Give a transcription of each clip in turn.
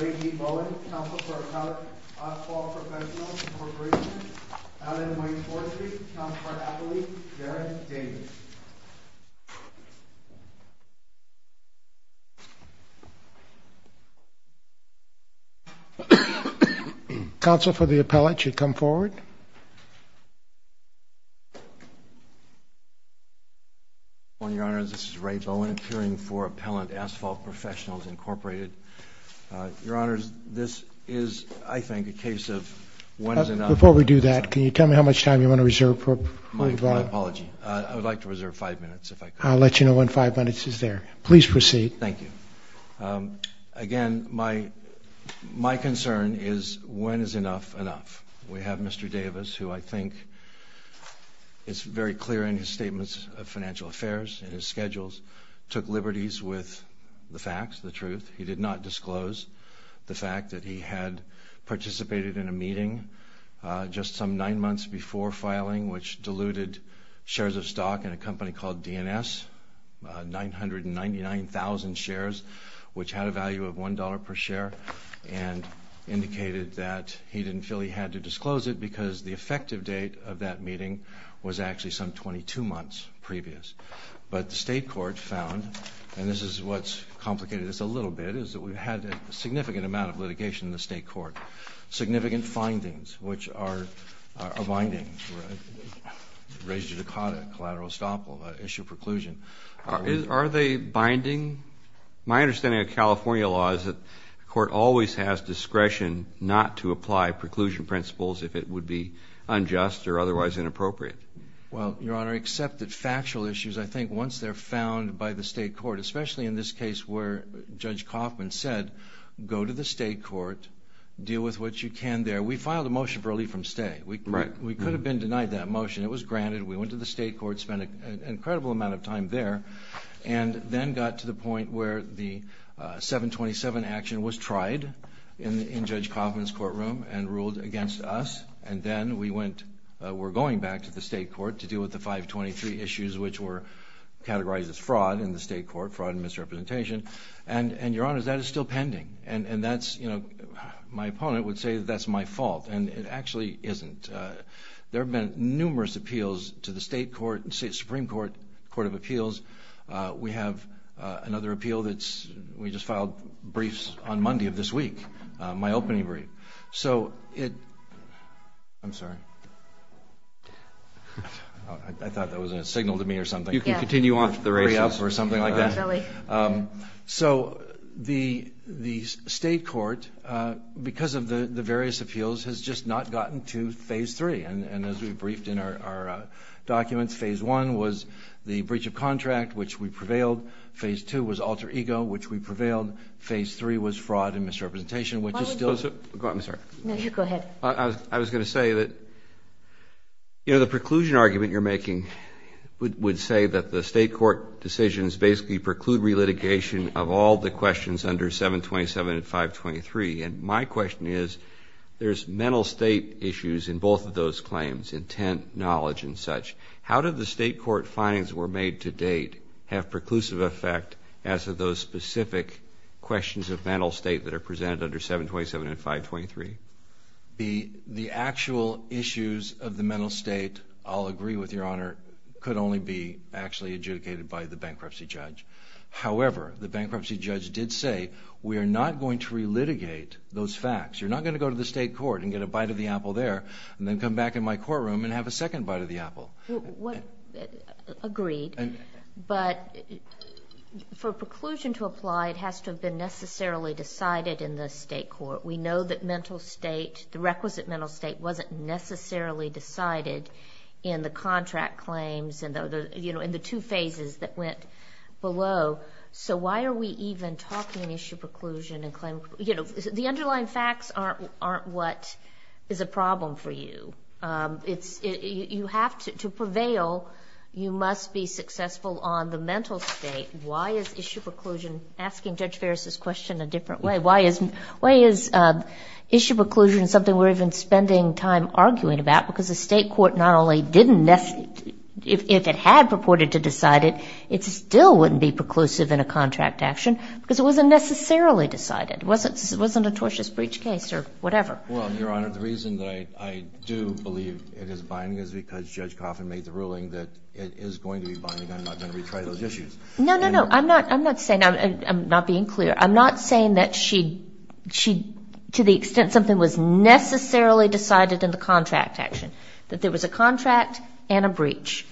Ray D. Bowen, Counsel for Appellate Law Professionals and Corporations. Allen Wayne Forestry, Counsel for Appellate. Darren Davis. Counsel for the Appellate should come forward. Good morning, Your Honors. This is Ray Bowen, appearing for Appellate Asphalt Professionals, Incorporated. Your Honors, this is, I think, a case of when is enough? Before we do that, can you tell me how much time you want to reserve? My apology. I would like to reserve five minutes, if I could. I'll let you know when five minutes is there. Please proceed. Thank you. Again, my concern is when is enough enough? We have Mr. Davis, who I think is very clear in his statements of financial affairs and his schedules, took liberties with the facts, the truth. He did not disclose the fact that he had participated in a meeting just some nine months before filing, which diluted shares of stock in a company called DNS, 999,000 shares, which had a value of $1 per share, and indicated that he didn't feel he had to disclose it because the effective date of that meeting was actually some 22 months previous. But the state court found, and this is what's complicated this a little bit, is that we've had a significant amount of litigation in the state court. Significant findings, which are binding. Raise your dichotomy, collateral estoppel, issue preclusion. Are they binding? My understanding of California law is that the court always has discretion not to apply preclusion principles if it would be unjust or otherwise inappropriate. Well, Your Honor, except that factual issues, I think, once they're found by the state court, especially in this case where Judge Coffman said, go to the state court, deal with what you can there. We filed a motion for relief from stay. We could have been denied that motion. It was granted. We went to the state court, spent an incredible amount of time there, and then got to the point where the 727 action was tried in Judge Coffman's courtroom and ruled against us. And then we went, we're going back to the state court to deal with the 523 issues, which were categorized as fraud in the state court, fraud and misrepresentation. And, Your Honor, that is still pending. And that's, you know, my opponent would say that's my fault. And it actually isn't. There have been numerous appeals to the state court, Supreme Court, Court of Appeals. We have another appeal that's, we just filed briefs on Monday of this week, my opening brief. So it, I'm sorry. I thought that was a signal to me or something. You can continue on. Or something like that. So the state court, because of the various appeals, has just not gotten to Phase 3. And as we briefed in our documents, Phase 1 was the breach of contract, which we prevailed. Phase 2 was alter ego, which we prevailed. Phase 3 was fraud and misrepresentation, which is still. I'm sorry. No, you go ahead. I was going to say that, you know, the preclusion argument you're making would say that the state court decisions basically preclude relitigation of all the questions under 727 and 523. And my question is, there's mental state issues in both of those claims, intent, knowledge, and such. How did the state court findings that were made to date have preclusive effect as to those specific questions of mental state that are presented under 727 and 523? The actual issues of the mental state, I'll agree with Your Honor, could only be actually adjudicated by the bankruptcy judge. However, the bankruptcy judge did say, we are not going to relitigate those facts. You're not going to go to the state court and get a bite of the apple there and then come back in my courtroom and have a second bite of the apple. Agreed. But for preclusion to apply, it has to have been necessarily decided in the state court. We know that mental state, the requisite mental state, wasn't necessarily decided in the contract claims and the two phases that went below. So why are we even talking issue preclusion and claim? You know, the underlying facts aren't what is a problem for you. You have to prevail. You must be successful on the mental state. Why is issue preclusion, asking Judge Ferris' question a different way, why is issue preclusion something we're even spending time arguing about? Because the state court not only didn't necessarily, if it had purported to decide it, it still wouldn't be preclusive in a contract action because it wasn't necessarily decided. It wasn't a tortious breach case or whatever. Well, Your Honor, the reason that I do believe it is binding is because Judge Coffin made the ruling that it is going to be binding. I'm not going to retry those issues. No, no, no. I'm not saying that. I'm not being clear. I'm not saying that she, to the extent something was necessarily decided in the contract action, that there was a contract and a breach.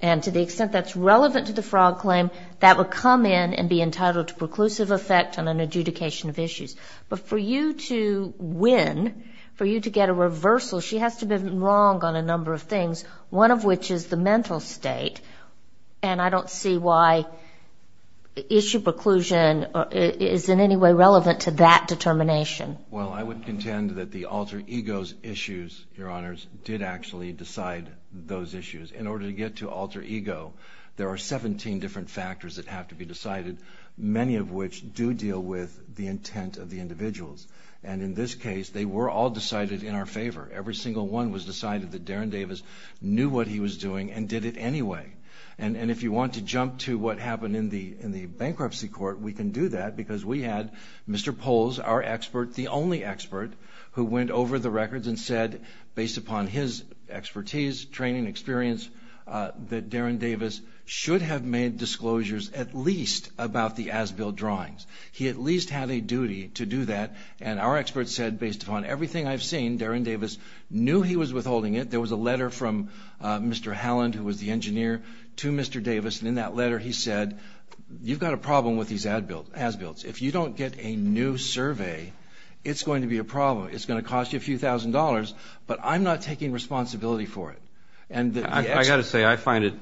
And to the extent that's relevant to the fraud claim, that would come in and be entitled to preclusive effect on an adjudication of issues. But for you to win, for you to get a reversal, she has to have been wrong on a number of things, one of which is the mental state. And I don't see why issue preclusion is in any way relevant to that determination. Well, I would contend that the alter ego's issues, Your Honors, did actually decide those issues. In order to get to alter ego, there are 17 different factors that have to be decided, many of which do deal with the intent of the individuals. And in this case, they were all decided in our favor. Every single one was decided that Darren Davis knew what he was doing and did it anyway. And if you want to jump to what happened in the bankruptcy court, we can do that because we had Mr. Polz, our expert, the only expert who went over the records and said, based upon his expertise, training, experience, that Darren Davis should have made disclosures at least about the As-Built drawings. He at least had a duty to do that. And our expert said, based upon everything I've seen, Darren Davis knew he was withholding it. There was a letter from Mr. Halland, who was the engineer, to Mr. Davis. And in that letter, he said, you've got a problem with these As-Builts. If you don't get a new survey, it's going to be a problem. It's going to cost you a few thousand dollars, but I'm not taking responsibility for it. I've got to say, I find it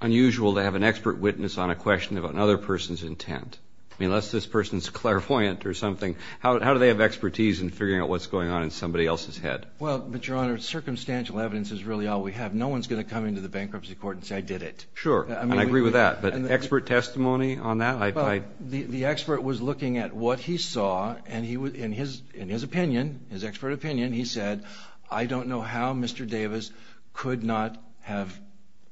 unusual to have an expert witness on a question about another person's intent. I mean, unless this person's clairvoyant or something. How do they have expertise in figuring out what's going on in somebody else's head? Well, but, Your Honor, circumstantial evidence is really all we have. No one's going to come into the bankruptcy court and say, I did it. Sure, and I agree with that. But expert testimony on that? The expert was looking at what he saw, and in his opinion, his expert opinion, he said, I don't know how Mr. Davis could not have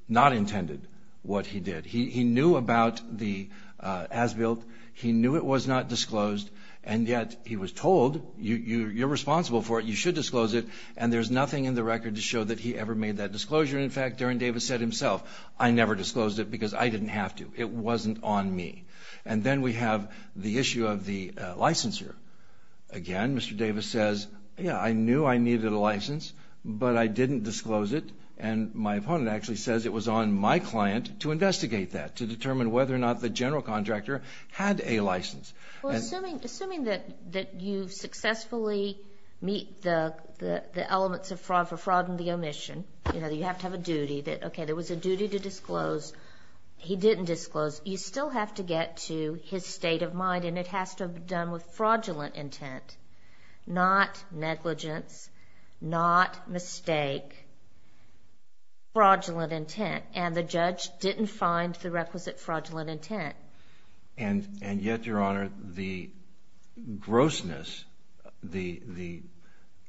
not intended what he did. He knew about the As-Built. He knew it was not disclosed. And yet he was told, you're responsible for it. You should disclose it. And there's nothing in the record to show that he ever made that disclosure. In fact, Darren Davis said himself, I never disclosed it because I didn't have to. It wasn't on me. And then we have the issue of the licensure. Again, Mr. Davis says, yeah, I knew I needed a license, but I didn't disclose it. And my opponent actually says it was on my client to investigate that, to determine whether or not the general contractor had a license. Well, assuming that you successfully meet the elements of fraud for fraud and the omission, you know, you have to have a duty that, okay, there was a duty to disclose. He didn't disclose. You still have to get to his state of mind, and it has to have been done with fraudulent intent, not negligence, not mistake, fraudulent intent. And the judge didn't find the requisite fraudulent intent. And yet, Your Honor, the grossness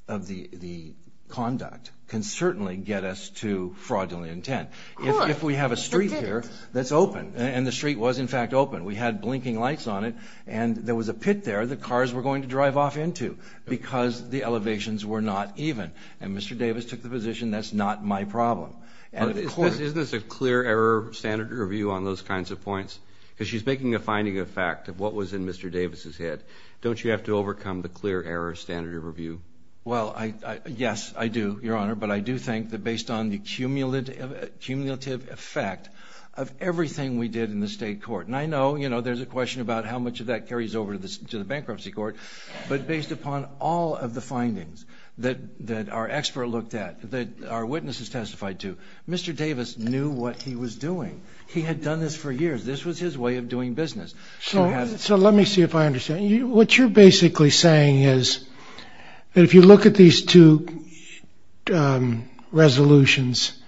of the conduct can certainly get us to fraudulent intent. If we have a street here that's open, and the street was in fact open, we had blinking lights on it, and there was a pit there that cars were going to drive off into because the elevations were not even. And Mr. Davis took the position that's not my problem. Isn't this a clear error standard review on those kinds of points? Because she's making a finding of fact of what was in Mr. Davis' head. Don't you have to overcome the clear error standard review? Well, yes, I do, Your Honor, but I do think that based on the cumulative effect of everything we did in the state court, and I know, you know, there's a question about how much of that carries over to the bankruptcy court, but based upon all of the findings that our expert looked at, that our witnesses testified to, Mr. Davis knew what he was doing. He had done this for years. This was his way of doing business. So let me see if I understand. What you're basically saying is that if you look at these two resolutions,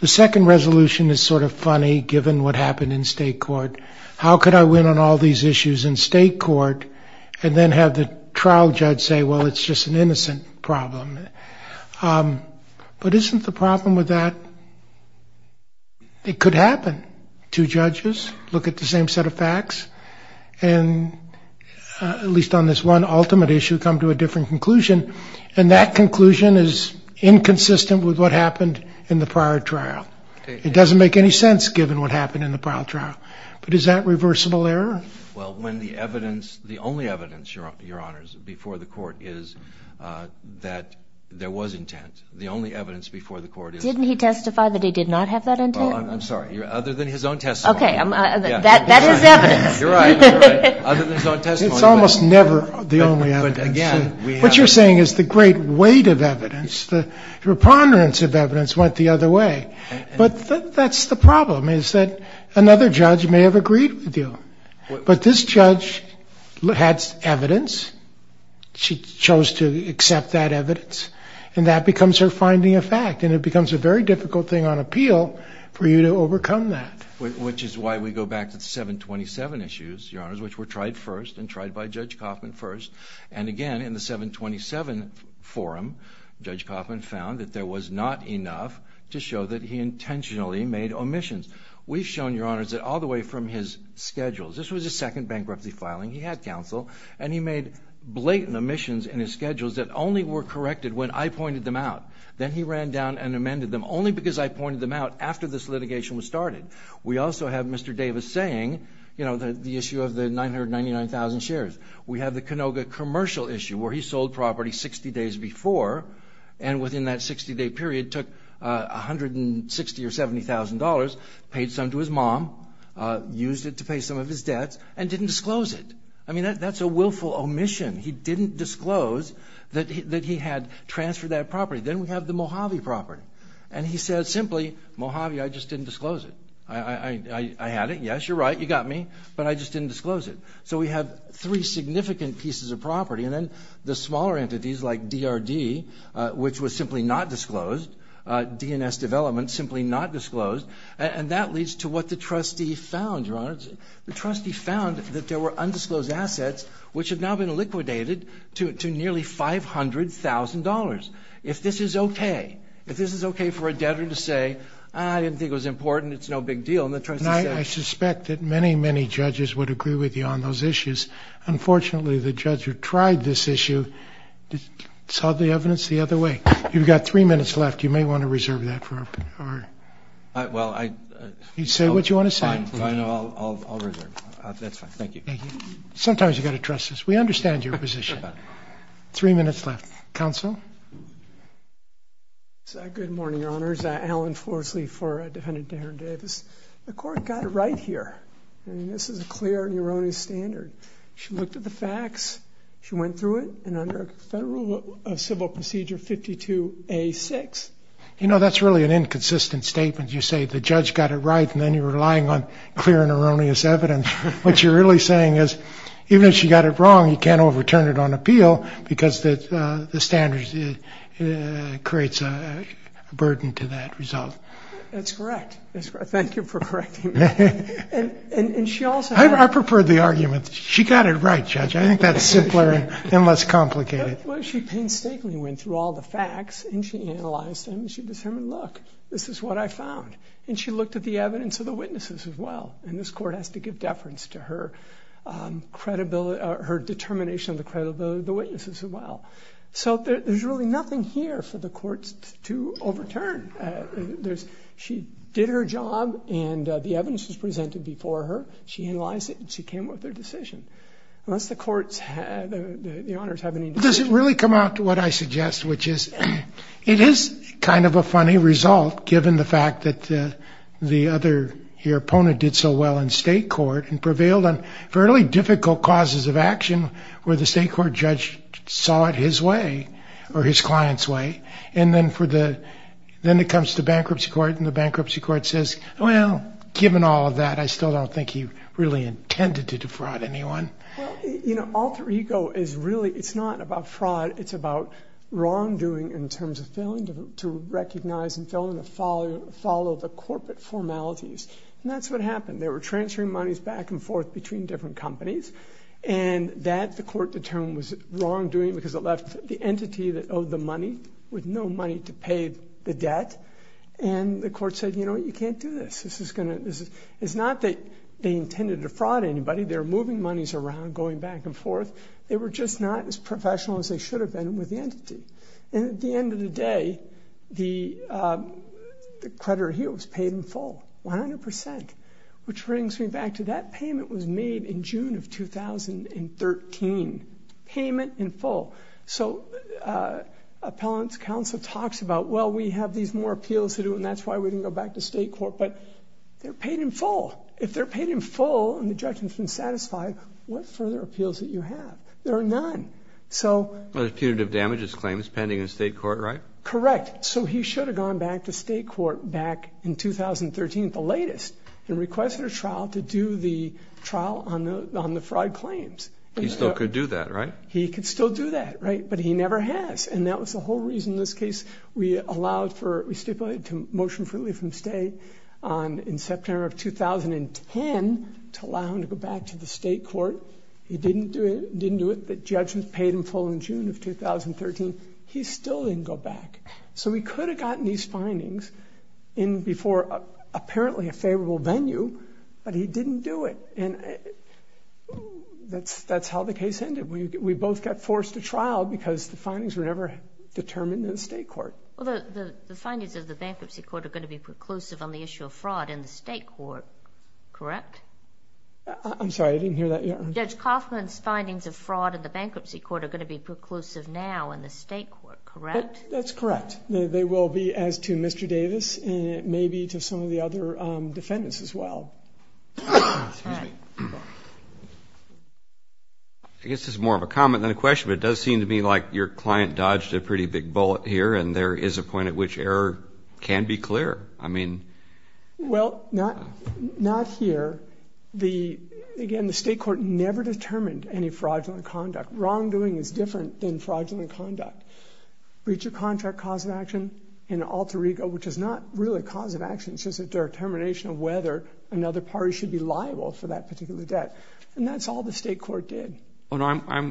the second resolution is sort of funny given what happened in state court. How could I win on all these issues in state court and then have the trial judge say, well, it's just an innocent problem? But isn't the problem with that it could happen? Two judges look at the same set of facts and at least on this one ultimate issue come to a different conclusion, and that conclusion is inconsistent with what happened in the prior trial. It doesn't make any sense given what happened in the prior trial. But is that reversible error? Well, when the evidence, the only evidence, Your Honors, before the court is that there was intent. The only evidence before the court is. Didn't he testify that he did not have that intent? I'm sorry. Other than his own testimony. Okay. That is evidence. You're right. Other than his own testimony. It's almost never the only evidence. But again. What you're saying is the great weight of evidence, the preponderance of evidence went the other way. But that's the problem is that another judge may have agreed with you. But this judge had evidence. She chose to accept that evidence. And that becomes her finding of fact. And it becomes a very difficult thing on appeal for you to overcome that. Which is why we go back to the 727 issues, Your Honors, which were tried first and tried by Judge Coffman first. And, again, in the 727 forum, Judge Coffman found that there was not enough to show that he intentionally made omissions. We've shown, Your Honors, that all the way from his schedules. This was his second bankruptcy filing. He had counsel. And he made blatant omissions in his schedules that only were corrected when I pointed them out. Then he ran down and amended them only because I pointed them out after this litigation was started. We also have Mr. Davis saying, you know, the issue of the 999,000 shares. We have the Canoga commercial issue where he sold property 60 days before and within that 60-day period took $160,000 or $70,000, paid some to his mom, used it to pay some of his debts, and didn't disclose it. I mean, that's a willful omission. He didn't disclose that he had transferred that property. Then we have the Mojave property. And he said simply, Mojave, I just didn't disclose it. I had it. Yes, you're right. You got me. But I just didn't disclose it. So we have three significant pieces of property. And then the smaller entities like DRD, which was simply not disclosed, DNS development simply not disclosed. And that leads to what the trustee found, Your Honor. The trustee found that there were undisclosed assets which have now been liquidated to nearly $500,000. If this is okay, if this is okay for a debtor to say, I didn't think it was important, it's no big deal. And the trustee said. And I suspect that many, many judges would agree with you on those issues. Unfortunately, the judge who tried this issue saw the evidence the other way. You've got three minutes left. You may want to reserve that for our. Well, I. You say what you want to say. Fine. I'll reserve. That's fine. Thank you. Sometimes you've got to trust us. We understand your position. Three minutes left. Counsel. Good morning, Your Honors. Alan Forsley for Defendant Darren Davis. The court got it right here. I mean, this is a clear and erroneous standard. She looked at the facts. She went through it. And under Federal Civil Procedure 52A6. You know, that's really an inconsistent statement. You say the judge got it right, and then you're relying on clear and erroneous evidence. What you're really saying is even if she got it wrong, you can't overturn it on appeal because the standards creates a burden to that result. That's correct. Thank you for correcting me. And she also. I prefer the argument. She got it right, Judge. I think that's simpler and less complicated. Well, she painstakingly went through all the facts, and she analyzed them, and she said, look, this is what I found. And she looked at the evidence of the witnesses as well. And this court has to give deference to her determination of the credibility of the witnesses as well. So there's really nothing here for the courts to overturn. She did her job, and the evidence was presented before her. She analyzed it, and she came with her decision. Unless the courts, the honors have any indication. Does it really come out to what I suggest, which is it is kind of a funny result, given the fact that the other here, Pona, did so well in state court and prevailed on fairly difficult causes of action where the state court judge saw it his way or his client's way. And then it comes to bankruptcy court, and the bankruptcy court says, well, given all of that, I still don't think he really intended to defraud anyone. Well, alter ego is really, it's not about fraud. It's about wrongdoing in terms of failing to recognize and failing to follow the corporate formalities. And that's what happened. They were transferring monies back and forth between different companies. And that, the court determined, was wrongdoing because it left the entity that owed the money with no money to pay the debt. And the court said, you know what, you can't do this. It's not that they intended to fraud anybody. They were moving monies around, going back and forth. They were just not as professional as they should have been with the entity. And at the end of the day, the creditor here was paid in full, 100%, which brings me back to that payment was made in June of 2013. Payment in full. So appellant's counsel talks about, well, we have these more appeals to do, and that's why we didn't go back to state court. But they're paid in full. If they're paid in full and the judge has been satisfied, what further appeals do you have? There are none. Well, there's putative damages claims pending in state court, right? Correct. So he should have gone back to state court back in 2013 at the latest. And requested a trial to do the trial on the fraud claims. He still could do that, right? He could still do that, right? But he never has. And that was the whole reason in this case we stipulated to motion for leave from state in September of 2010 to allow him to go back to the state court. He didn't do it. The judge paid him full in June of 2013. He still didn't go back. So he could have gotten these findings in before apparently a favorable venue, but he didn't do it. And that's how the case ended. We both got forced to trial because the findings were never determined in state court. Well, the findings of the bankruptcy court are going to be preclusive on the issue of fraud in the state court, correct? I'm sorry. I didn't hear that. Judge Kaufman's findings of fraud in the bankruptcy court are going to be preclusive now in the state court, correct? That's correct. They will be as to Mr. Davis, and it may be to some of the other defendants as well. All right. I guess this is more of a comment than a question, but it does seem to me like your client dodged a pretty big bullet here, and there is a point at which error can be clear. I mean. Well, not here. Again, the state court never determined any fraudulent conduct. Wrongdoing is different than fraudulent conduct. Breach of contract cause of action in Alter Ego, which is not really cause of action, it's just a determination of whether another party should be liable for that particular debt, and that's all the state court did. I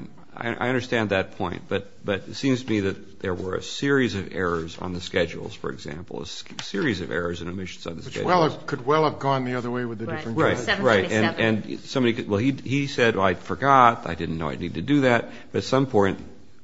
understand that point, but it seems to me that there were a series of errors on the schedules, for example, a series of errors and omissions on the schedules. Which could well have gone the other way with the different judges. Right, right. 727. He said, well, I forgot, I didn't know I needed to do that, but at some point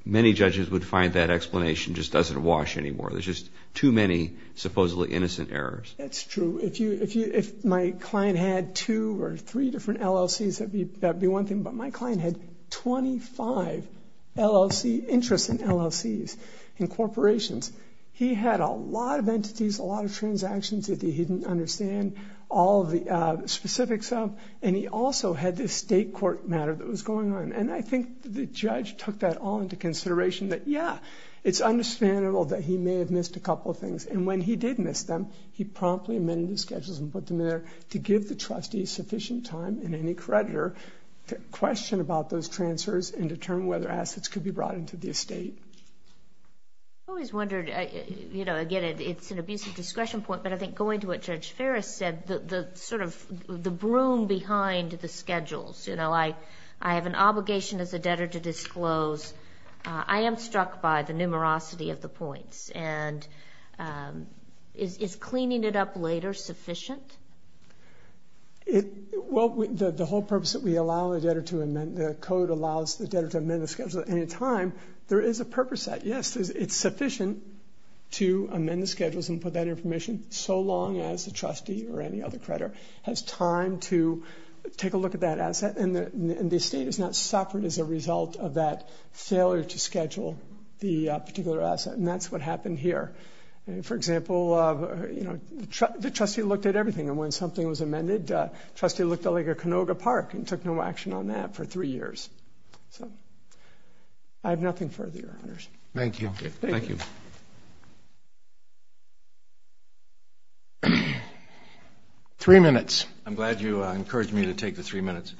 many judges would find that explanation just doesn't wash anymore. There's just too many supposedly innocent errors. That's true. If my client had two or three different LLCs, that would be one thing, but my client had 25 interest in LLCs and corporations. He had a lot of entities, a lot of transactions that he didn't understand all of the specifics of, and he also had this state court matter that was going on, and I think the judge took that all into consideration that, yeah, it's understandable that he may have missed a couple of things, and when he did miss them, he promptly amended the schedules and put them there to give the trustee sufficient time and any creditor to question about those transfers and determine whether assets could be brought into the estate. I always wondered, you know, again, it's an abusive discretion point, but I think going to what Judge Ferris said, sort of the broom behind the schedules, you know, I have an obligation as a debtor to disclose. I am struck by the numerosity of the points, and is cleaning it up later sufficient? Well, the whole purpose that we allow the debtor to amend, the code allows the debtor to amend the schedule at any time, there is a purpose to that. Yes, it's sufficient to amend the schedules and put that in permission so long as the trustee or any other creditor has time to take a look at that asset, and the estate is not suffered as a result of that failure to schedule the particular asset, and that's what happened here. For example, you know, the trustee looked at everything, and when something was amended, the trustee looked like a Canoga Park and took no action on that for three years. I have nothing further, Your Honors. Thank you. Thank you. Three minutes. I'm glad you encouraged me to take the three minutes.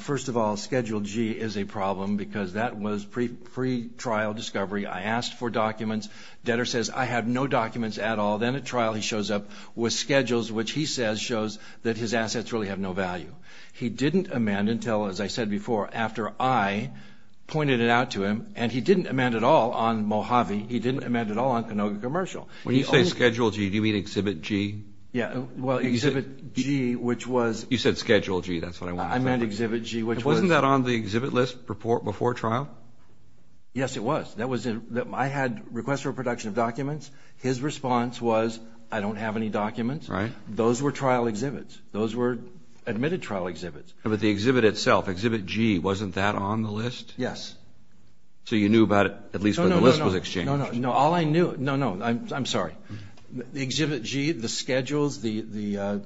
First of all, Schedule G is a problem because that was pre-trial discovery. I asked for documents. Debtor says, I have no documents at all. Then at trial he shows up with schedules which he says shows that his assets really have no value. He didn't amend until, as I said before, after I pointed it out to him, and he didn't amend at all on Mojave. He didn't amend at all on Canoga Commercial. When you say Schedule G, do you mean Exhibit G? Yeah. Well, Exhibit G, which was – You said Schedule G. That's what I wanted to say. I meant Exhibit G, which was – Wasn't that on the exhibit list before trial? Yes, it was. I had requests for production of documents. His response was, I don't have any documents. Those were trial exhibits. Those were admitted trial exhibits. But the exhibit itself, Exhibit G, wasn't that on the list? Yes. So you knew about it at least when the list was exchanged? No, no, no. All I knew – no, no, I'm sorry. The Exhibit G, the schedules, the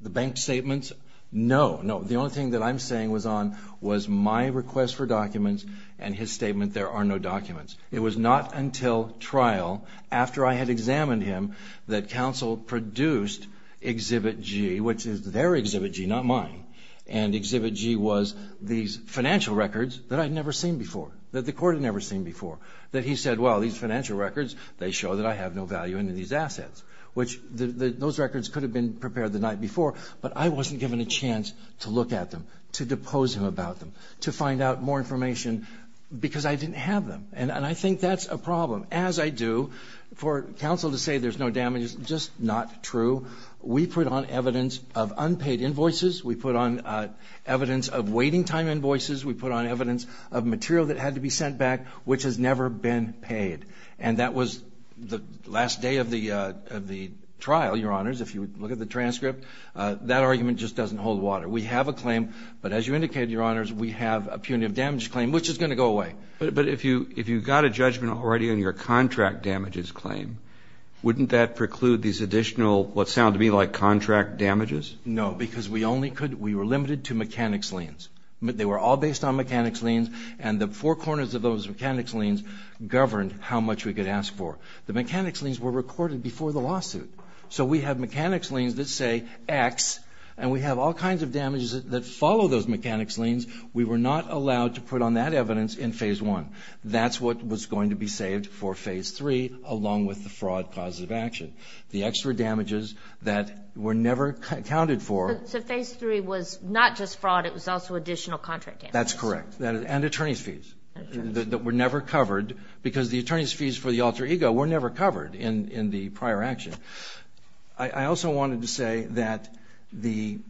bank statements, no, no. The only thing that I'm saying was on was my request for documents and his statement, there are no documents. It was not until trial, after I had examined him, that counsel produced Exhibit G, which is their Exhibit G, not mine. And Exhibit G was these financial records that I'd never seen before, that the court had never seen before. That he said, well, these financial records, they show that I have no value in these assets. Those records could have been prepared the night before, but I wasn't given a chance to look at them, to depose him about them, to find out more information because I didn't have them. And I think that's a problem. As I do, for counsel to say there's no damage is just not true. We put on evidence of unpaid invoices. We put on evidence of waiting time invoices. We put on evidence of material that had to be sent back, which has never been paid. And that was the last day of the trial, Your Honors, if you look at the transcript. That argument just doesn't hold water. We have a claim, but as you indicated, Your Honors, we have a punitive damage claim, which is going to go away. But if you got a judgment already on your contract damages claim, wouldn't that preclude these additional, what sounded to me like contract damages? No, because we were limited to mechanics liens. They were all based on mechanics liens, and the four corners of those mechanics liens governed how much we could ask for. The mechanics liens were recorded before the lawsuit. So we have mechanics liens that say X, and we have all kinds of damages that follow those mechanics liens. We were not allowed to put on that evidence in Phase 1. That's what was going to be saved for Phase 3, along with the fraud positive action. The extra damages that were never accounted for. So Phase 3 was not just fraud. It was also additional contract damages. That's correct, and attorney's fees that were never covered, because the attorney's fees for the alter ego were never covered in the prior action. I also wanted to say that the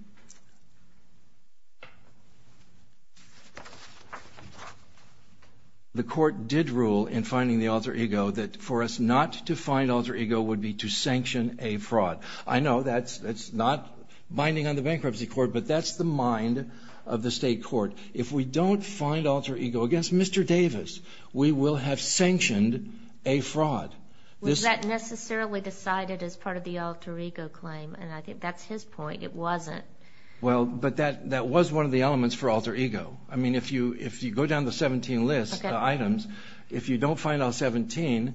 court did rule in finding the alter ego that for us not to find alter ego would be to sanction a fraud. I know that's not binding on the bankruptcy court, but that's the mind of the state court. If we don't find alter ego against Mr. Davis, we will have sanctioned a fraud. Was that necessarily decided as part of the alter ego claim? And I think that's his point. It wasn't. Well, but that was one of the elements for alter ego. I mean, if you go down the 17 list, the items, if you don't find all 17,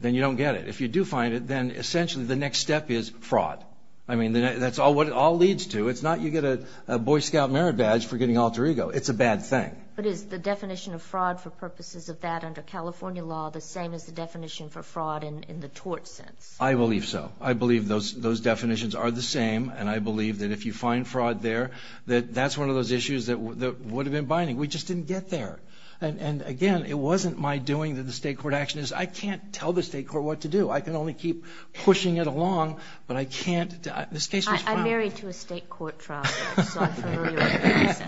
then you don't get it. If you do find it, then essentially the next step is fraud. I mean, that's what it all leads to. It's not you get a Boy Scout merit badge for getting alter ego. It's a bad thing. But is the definition of fraud for purposes of that under California law the same as the definition for fraud in the tort sense? I believe so. I believe those definitions are the same, and I believe that if you find fraud there, that that's one of those issues that would have been binding. We just didn't get there. And, again, it wasn't my doing that the state court action is. I can't tell the state court what to do. I can only keep pushing it along, but I can't. This case was filed. I'm married to a state court trial, so I'm familiar with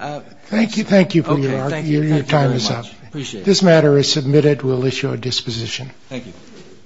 that. Thank you. Thank you. Your time is up. This matter is submitted. We'll issue a disposition. Thank you.